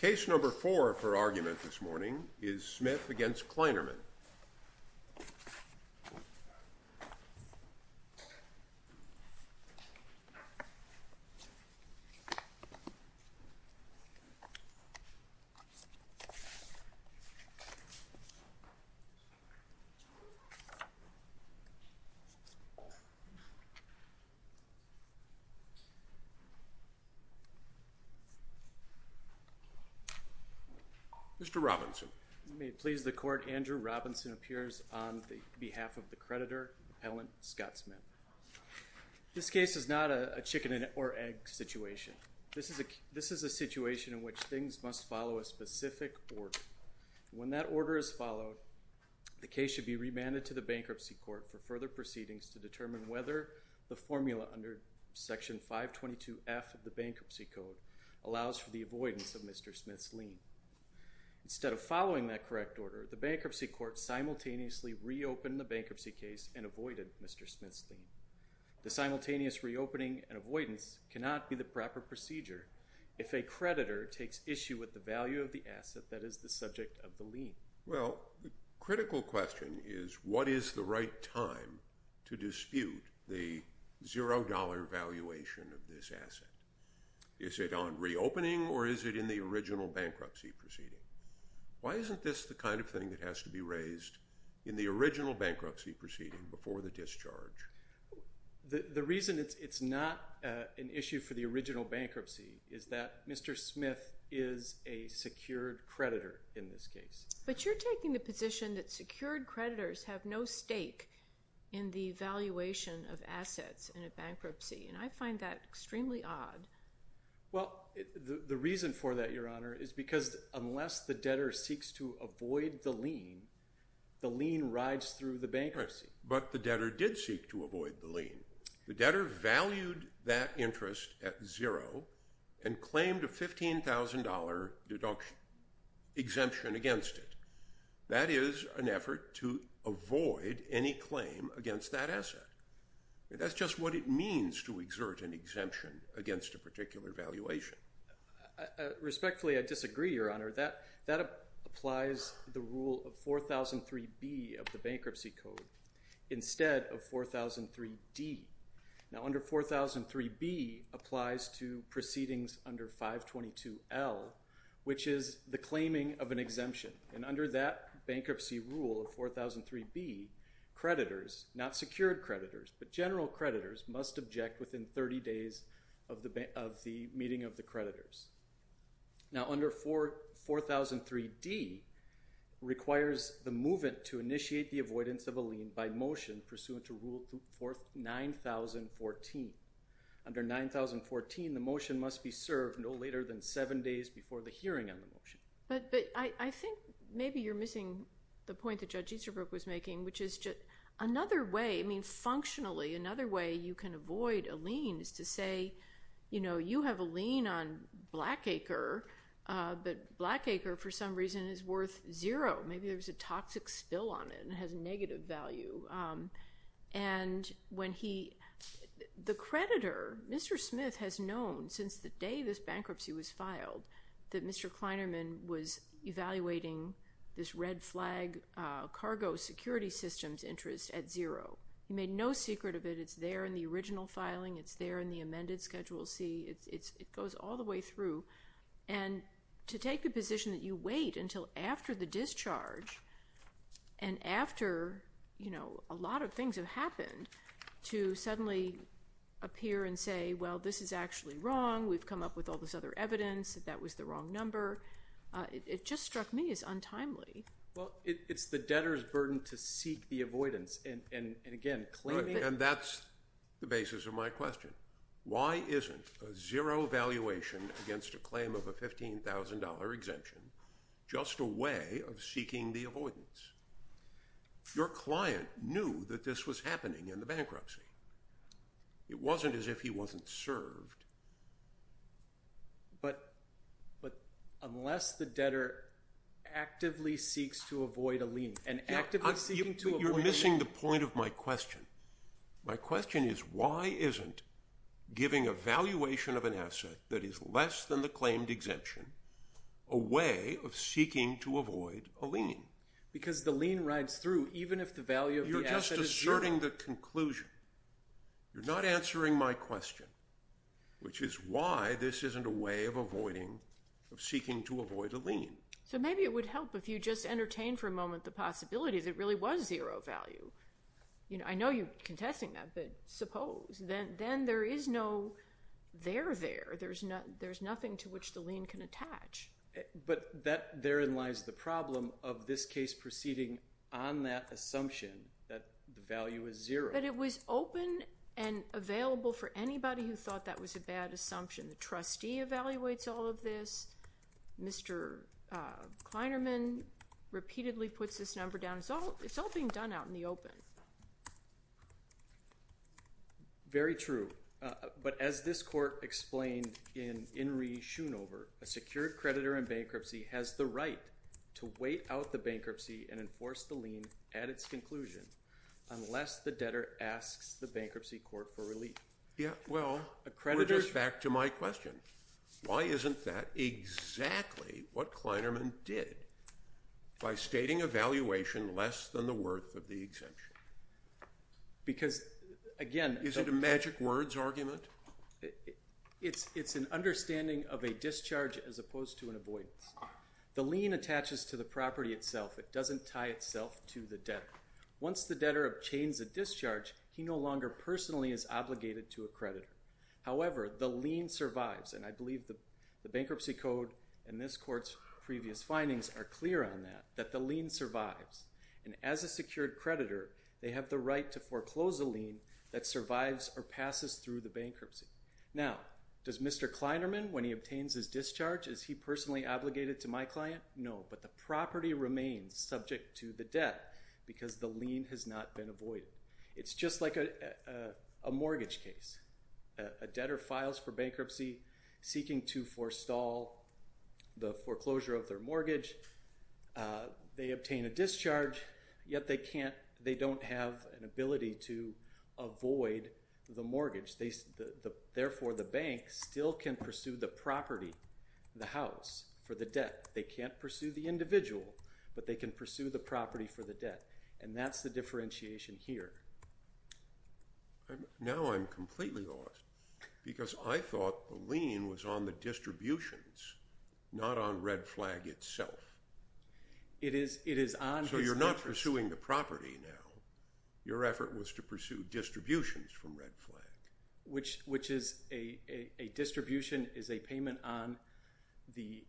Case number four for argument this morning is Smith v. Kleynerman. Mr. Robinson. May it please the court, Andrew Robinson appears on behalf of the creditor, appellant Scott Smith. This case is not a chicken or egg situation. This is a situation in which things must follow a specific order. When that order is followed, the case should be remanded to the bankruptcy court for further proceedings to determine whether the formula under section 522F of the bankruptcy code allows for the avoidance of Mr. Smith's lien. Instead of following that correct order, the bankruptcy court simultaneously reopened the bankruptcy case and avoided Mr. Smith's lien. The simultaneous reopening and avoidance cannot be the proper procedure if a creditor takes issue with the value of the asset that is the subject of the lien. Well, the critical question is what is the right time to dispute the $0 valuation of this asset? Is it on reopening or is it in the original bankruptcy proceeding? Why isn't this the kind of thing that has to be raised in the original bankruptcy proceeding before the discharge? The reason it's not an issue for the original bankruptcy is that Mr. Smith is a secured creditor in this case. But you're taking the position that secured creditors have no stake in the valuation of assets in a bankruptcy, and I find that extremely odd. Well, the reason for that, Your Honor, is because unless the debtor seeks to avoid the lien, the lien rides through the bankruptcy. But the debtor did seek to avoid the lien. The debtor valued that interest at $0 and claimed a $15,000 exemption against it. That is an effort to avoid any claim against that asset. That's just what it means to exert an exemption against a particular valuation. Respectfully, I disagree, Your Honor. That applies the rule of 4003B of the Bankruptcy Code instead of 4003D. Now, under 4003B applies to proceedings under 522L, which is the claiming of an exemption. And under that bankruptcy rule of 4003B, creditors, not secured creditors, but general creditors must object within 30 days of the meeting of the creditors. Now, under 4003D requires the movant to initiate the avoidance of a lien by motion pursuant to Rule 9014. Under 9014, the motion must be served no later than 7 days before the hearing on the motion. But I think maybe you're missing the point that Judge Easterbrook was making, which is another way, I mean, functionally another way you can avoid a lien is to say, you know, you have a lien on Blackacre, but Blackacre for some reason is worth zero. Maybe there's a toxic spill on it and it has negative value. And when he – the creditor, Mr. Smith, has known since the day this bankruptcy was filed that Mr. Kleinerman was evaluating this red flag cargo security systems interest at zero. He made no secret of it. It's there in the original filing. It's there in the amended Schedule C. It goes all the way through. And to take a position that you wait until after the discharge and after, you know, a lot of things have happened to suddenly appear and say, well, this is actually wrong. We've come up with all this other evidence. That was the wrong number. It just struck me as untimely. Well, it's the debtor's burden to seek the avoidance. And that's the basis of my question. Why isn't a zero valuation against a claim of a $15,000 exemption just a way of seeking the avoidance? Your client knew that this was happening in the bankruptcy. It wasn't as if he wasn't served. But unless the debtor actively seeks to avoid a lien and actively seeking to avoid a lien. You're missing the point of my question. My question is why isn't giving a valuation of an asset that is less than the claimed exemption a way of seeking to avoid a lien? Because the lien rides through even if the value of the asset is zero. You're just asserting the conclusion. You're not answering my question, which is why this isn't a way of avoiding, of seeking to avoid a lien. So maybe it would help if you just entertained for a moment the possibility that it really was zero value. I know you're contesting that, but suppose. Then there is no there there. There's nothing to which the lien can attach. But therein lies the problem of this case proceeding on that assumption that the value is zero. But it was open and available for anybody who thought that was a bad assumption. The trustee evaluates all of this. Mr. Kleinerman repeatedly puts this number down. It's all being done out in the open. Very true. But as this court explained in Inree Schoonover, a secured creditor in bankruptcy has the right to wait out the bankruptcy and enforce the lien at its conclusion unless the debtor asks the bankruptcy court for relief. Yeah, well, it goes back to my question. Why isn't that exactly what Kleinerman did by stating a valuation less than the worth of the exemption? Because, again. Is it a magic words argument? It's an understanding of a discharge as opposed to an avoidance. The lien attaches to the property itself. It doesn't tie itself to the debtor. Once the debtor obtains a discharge, he no longer personally is obligated to a creditor. However, the lien survives, and I believe the bankruptcy code and this court's previous findings are clear on that, that the lien survives. And as a secured creditor, they have the right to foreclose a lien that survives or passes through the bankruptcy. Now, does Mr. Kleinerman, when he obtains his discharge, is he personally obligated to my client? No. But the property remains subject to the debt because the lien has not been avoided. It's just like a mortgage case. A debtor files for bankruptcy seeking to forestall the foreclosure of their mortgage. They obtain a discharge, yet they don't have an ability to avoid the mortgage. Therefore, the bank still can pursue the property, the house, for the debt. They can't pursue the individual, but they can pursue the property for the debt. And that's the differentiation here. Now I'm completely lost because I thought the lien was on the distributions, not on Red Flag itself. It is on its purchase. So you're not pursuing the property now. Your effort was to pursue distributions from Red Flag. Which is a distribution is a payment on the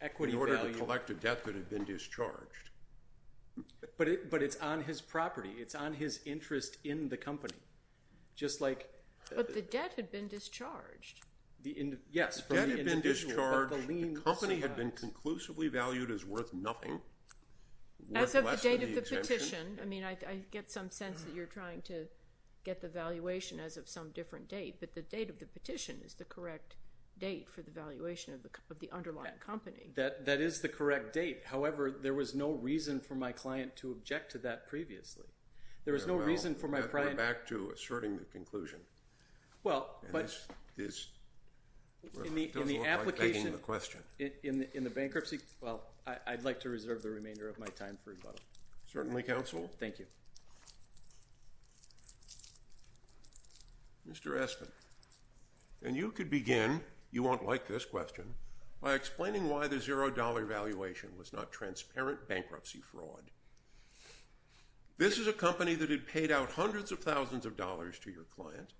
equity value. In order to collect a debt that had been discharged. But it's on his property. It's on his interest in the company. But the debt had been discharged. Yes. The debt had been discharged. The company had been conclusively valued as worth nothing. As of the date of the petition. I mean, I get some sense that you're trying to get the valuation as of some different date. But the date of the petition is the correct date for the valuation of the underlying company. That is the correct date. However, there was no reason for my client to object to that previously. There was no reason for my client. We're back to asserting the conclusion. Well, but in the application, in the bankruptcy. Well, I'd like to reserve the remainder of my time. Certainly counsel. Thank you. Mr. Aspen. And you could begin. You won't like this question. By explaining why the $0 valuation was not transparent bankruptcy fraud. This is a company that had paid out hundreds of thousands of dollars to your client.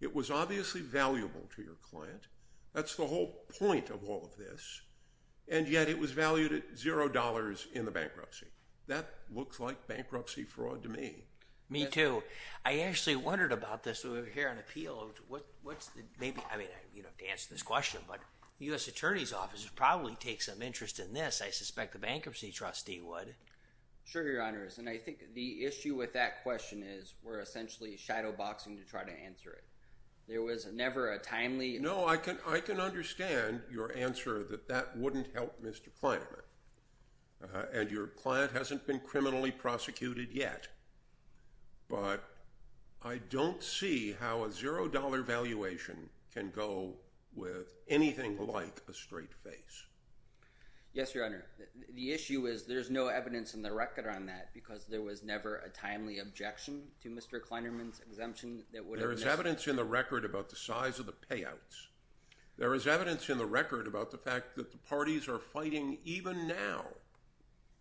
It was obviously valuable to your client. That's the whole point of all of this. And yet it was valued at $0 in the bankruptcy. That looks like bankruptcy fraud to me. Me too. I actually wondered about this. We're here on appeal. What's the maybe? I mean, you don't have to answer this question. But the U.S. Attorney's Office would probably take some interest in this. I suspect the bankruptcy trustee would. Sure, your honors. And I think the issue with that question is we're essentially shadow boxing to try to answer it. There was never a timely. No, I can. I can understand your answer that that wouldn't help Mr. Kleiner. And your client hasn't been criminally prosecuted yet. But I don't see how a $0 valuation can go with anything like a straight face. Yes, your honor. The issue is there's no evidence in the record on that because there was never a timely objection to Mr. There is evidence in the record about the size of the payouts. There is evidence in the record about the fact that the parties are fighting even now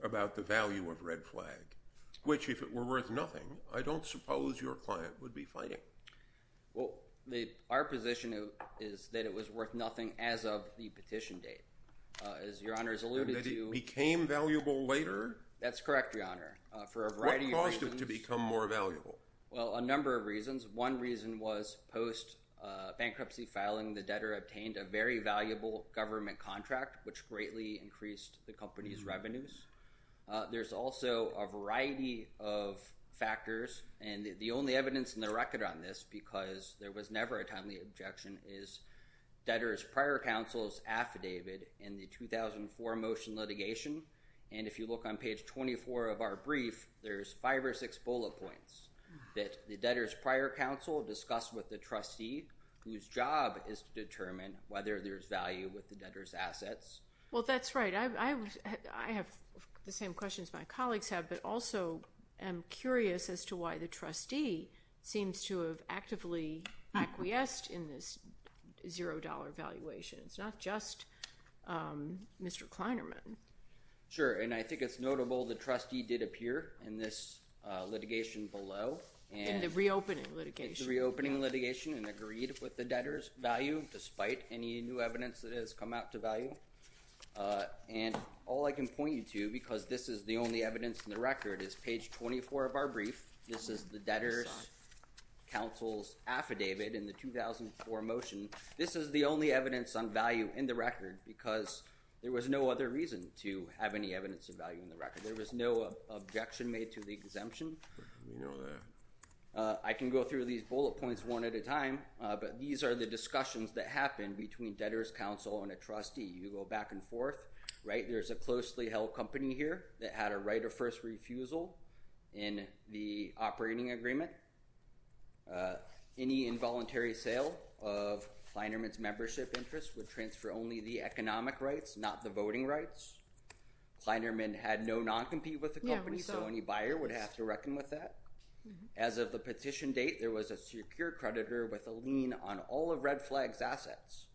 about the value of Red Flag, which if it were worth nothing, I don't suppose your client would be fighting. Well, our position is that it was worth nothing as of the petition date. As your honors alluded to. And that it became valuable later. That's correct, your honor. For a variety of reasons. Well, a number of reasons. One reason was post-bankruptcy filing the debtor obtained a very valuable government contract, which greatly increased the company's revenues. There's also a variety of factors. And the only evidence in the record on this, because there was never a timely objection, is debtor's prior counsel's affidavit in the 2004 motion litigation. And if you look on page 24 of our brief, there's five or six bullet points that the debtor's prior counsel discussed with the trustee, whose job is to determine whether there's value with the debtor's assets. Well, that's right. I have the same questions my colleagues have, but also am curious as to why the trustee seems to have actively acquiesced in this $0 valuation. It's not just Mr. Kleinerman. Sure. And I think it's notable the trustee did appear in this litigation below. In the reopening litigation. In the reopening litigation and agreed with the debtor's value, despite any new evidence that has come out to value. And all I can point you to, because this is the only evidence in the record, is page 24 of our brief. This is the debtor's counsel's affidavit in the 2004 motion. This is the only evidence on value in the record because there was no other reason to have any evidence of value in the record. There was no objection made to the exemption. I can go through these bullet points one at a time, but these are the discussions that happen between debtor's counsel and a trustee. You go back and forth. Right. There's a closely held company here that had a right of first refusal in the operating agreement. Any involuntary sale of Kleinerman's membership interest would transfer only the economic rights, not the voting rights. Kleinerman had no non-compete with the company, so any buyer would have to reckon with that. As of the petition date, there was a secure creditor with a lien on all of Red Flag's assets.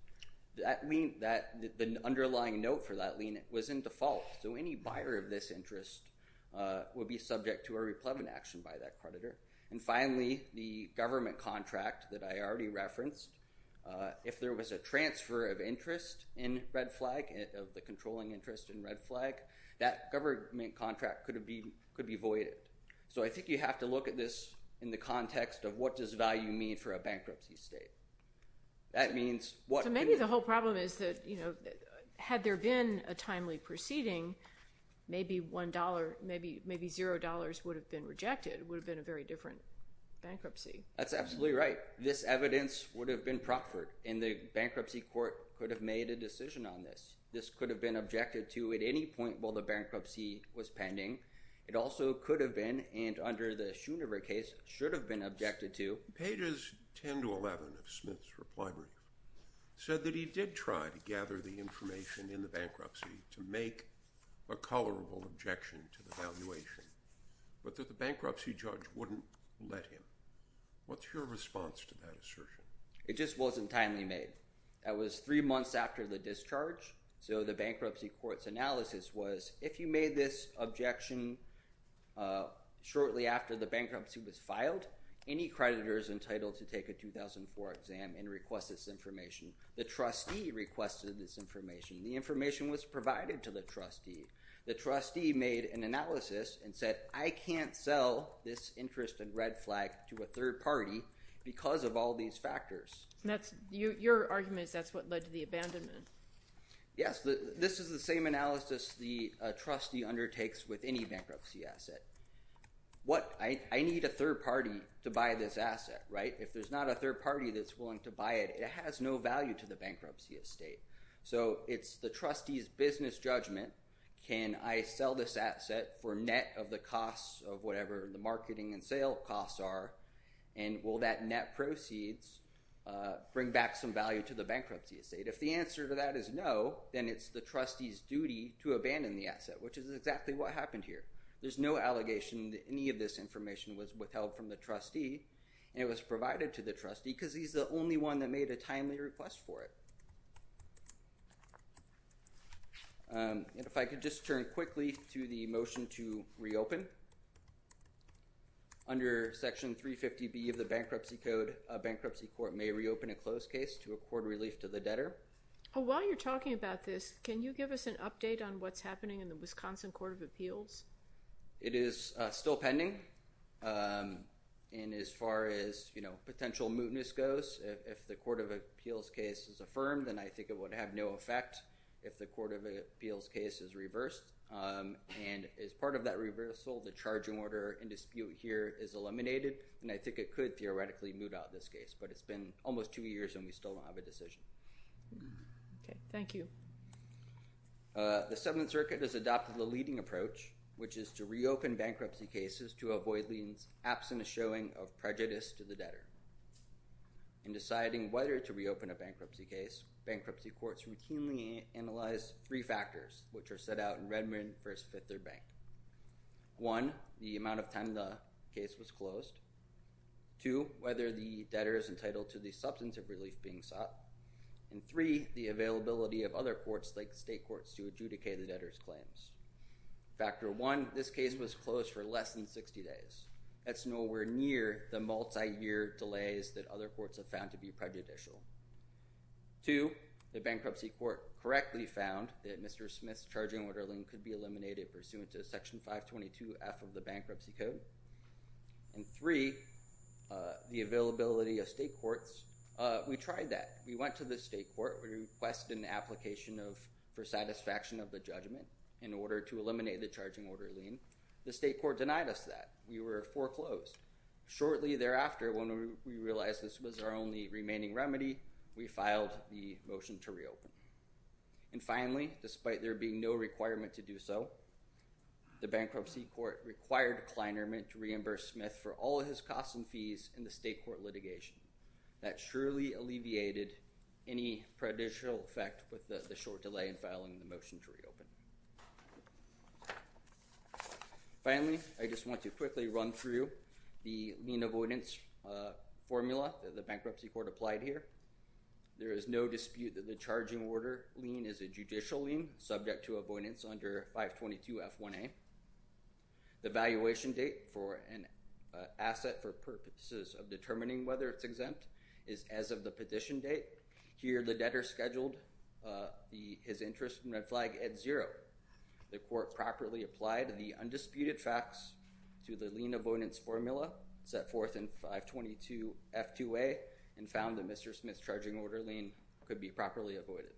The underlying note for that lien was in default, so any buyer of this interest would be subject to a replevant action by that creditor. And finally, the government contract that I already referenced, if there was a transfer of interest in Red Flag, the controlling interest in Red Flag, that government contract could be voided. So I think you have to look at this in the context of what does value mean for a bankruptcy state. That means what— So maybe the whole problem is that, you know, had there been a timely proceeding, maybe $1—maybe $0 would have been rejected. It would have been a very different bankruptcy. That's absolutely right. This evidence would have been proffered, and the bankruptcy court could have made a decision on this. This could have been objected to at any point while the bankruptcy was pending. It also could have been, and under the Schooner case, should have been objected to. Pages 10 to 11 of Smith's reply brief said that he did try to gather the information in the bankruptcy to make a colorable objection to the valuation, but that the bankruptcy judge wouldn't let him. What's your response to that assertion? It just wasn't timely made. That was three months after the discharge, so the bankruptcy court's analysis was, if you made this objection shortly after the bankruptcy was filed, any creditor is entitled to take a 2004 exam and request this information. The trustee requested this information. The information was provided to the trustee. The trustee made an analysis and said, I can't sell this interest and red flag to a third party because of all these factors. Your argument is that's what led to the abandonment. Yes. This is the same analysis the trustee undertakes with any bankruptcy asset. I need a third party to buy this asset. If there's not a third party that's willing to buy it, it has no value to the bankruptcy estate. So it's the trustee's business judgment. Can I sell this asset for net of the costs of whatever the marketing and sale costs are, and will that net proceeds bring back some value to the bankruptcy estate? If the answer to that is no, then it's the trustee's duty to abandon the asset, which is exactly what happened here. There's no allegation that any of this information was withheld from the trustee, and it was provided to the trustee because he's the only one that made a timely request for it. And if I could just turn quickly to the motion to reopen. Under Section 350B of the Bankruptcy Code, a bankruptcy court may reopen a closed case to accord relief to the debtor. While you're talking about this, can you give us an update on what's happening in the Wisconsin Court of Appeals? It is still pending. And as far as potential mootness goes, if the Court of Appeals case is affirmed, then I think it would have no effect if the Court of Appeals case is reversed. And as part of that reversal, the charging order in dispute here is eliminated, and I think it could theoretically moot out this case. But it's been almost two years, and we still don't have a decision. Okay. Thank you. The Seventh Circuit has adopted the leading approach, which is to reopen bankruptcy cases to avoid the absent showing of prejudice to the debtor. In deciding whether to reopen a bankruptcy case, bankruptcy courts routinely analyze three factors, which are set out in Redmond v. Fifth Third Bank. One, the amount of time the case was closed. Two, whether the debtor is entitled to the substantive relief being sought. And three, the availability of other courts like state courts to adjudicate the debtor's claims. Factor one, this case was closed for less than 60 days. That's nowhere near the multi-year delays that other courts have found to be prejudicial. Two, the bankruptcy court correctly found that Mr. Smith's charging order lien could be eliminated pursuant to Section 522F of the Bankruptcy Code. And three, the availability of state courts. We tried that. We went to the state court. We requested an application for satisfaction of the judgment in order to eliminate the charging order lien. The state court denied us that. We were foreclosed. Shortly thereafter, when we realized this was our only remaining remedy, we filed the motion to reopen. And finally, despite there being no requirement to do so, the bankruptcy court required Kleinerman to reimburse Smith for all of his costs and fees in the state court litigation. That surely alleviated any prejudicial effect with the short delay in filing the motion to reopen. Finally, I just want to quickly run through the lien avoidance formula that the bankruptcy court applied here. There is no dispute that the charging order lien is a judicial lien subject to avoidance under 522F1A. The valuation date for an asset for purposes of determining whether it's exempt is as of the petition date. Here, the debtor scheduled his interest in red flag at zero. The court properly applied the undisputed facts to the lien avoidance formula set forth in 522F2A and found that Mr. Smith's charging order lien could be properly avoided.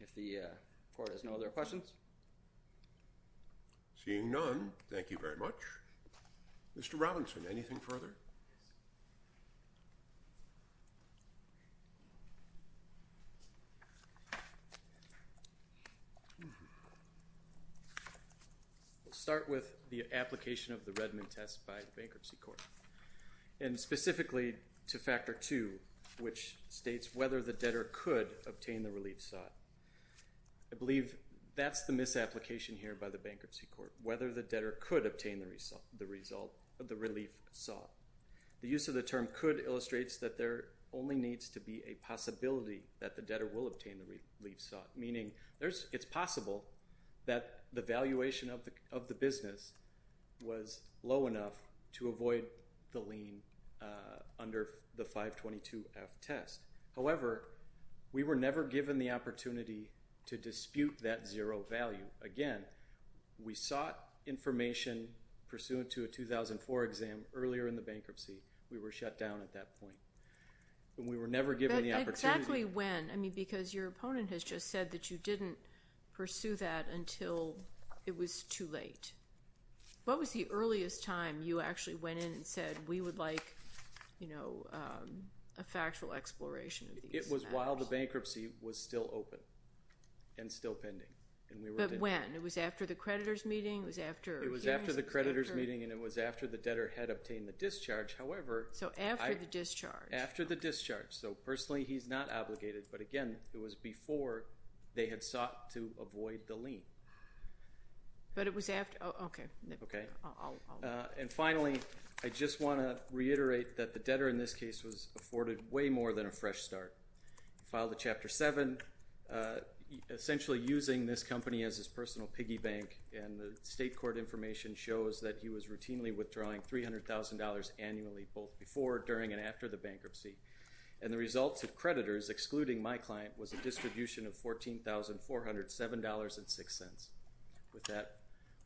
If the court has no other questions? Seeing none, thank you very much. Mr. Robinson, anything further? I'll start with the application of the Redmond test by the bankruptcy court, and specifically to Factor 2, which states whether the debtor could obtain the relief sought. I believe that's the misapplication here by the bankruptcy court, whether the debtor could obtain the relief sought. The use of the term could illustrates that there only needs to be a possibility that the debtor will obtain the relief sought, meaning it's possible that the valuation of the business was low enough to avoid the lien under the 522F test. However, we were never given the opportunity to dispute that zero value. Again, we sought information pursuant to a 2004 exam earlier in the bankruptcy. We were shut down at that point, and we were never given the opportunity. But exactly when? I mean, because your opponent has just said that you didn't pursue that until it was too late. What was the earliest time you actually went in and said, we would like a factual exploration of these matters? It was while the bankruptcy was still open and still pending. But when? It was after the creditor's meeting? It was after the creditor's meeting, and it was after the debtor had obtained the discharge. So after the discharge. After the discharge. So personally, he's not obligated. But again, it was before they had sought to avoid the lien. But it was after? Okay. Okay. And finally, I just want to reiterate that the debtor in this case was afforded way more than a fresh start. He filed a Chapter 7, essentially using this company as his personal piggy bank, and the state court information shows that he was routinely withdrawing $300,000 annually, both before, during, and after the bankruptcy. And the results of creditors excluding my client was a distribution of $14,407.06. With that,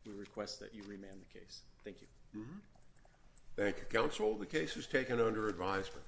we request that you remand the case. Thank you. Thank you, Counsel. The case is taken under advisement.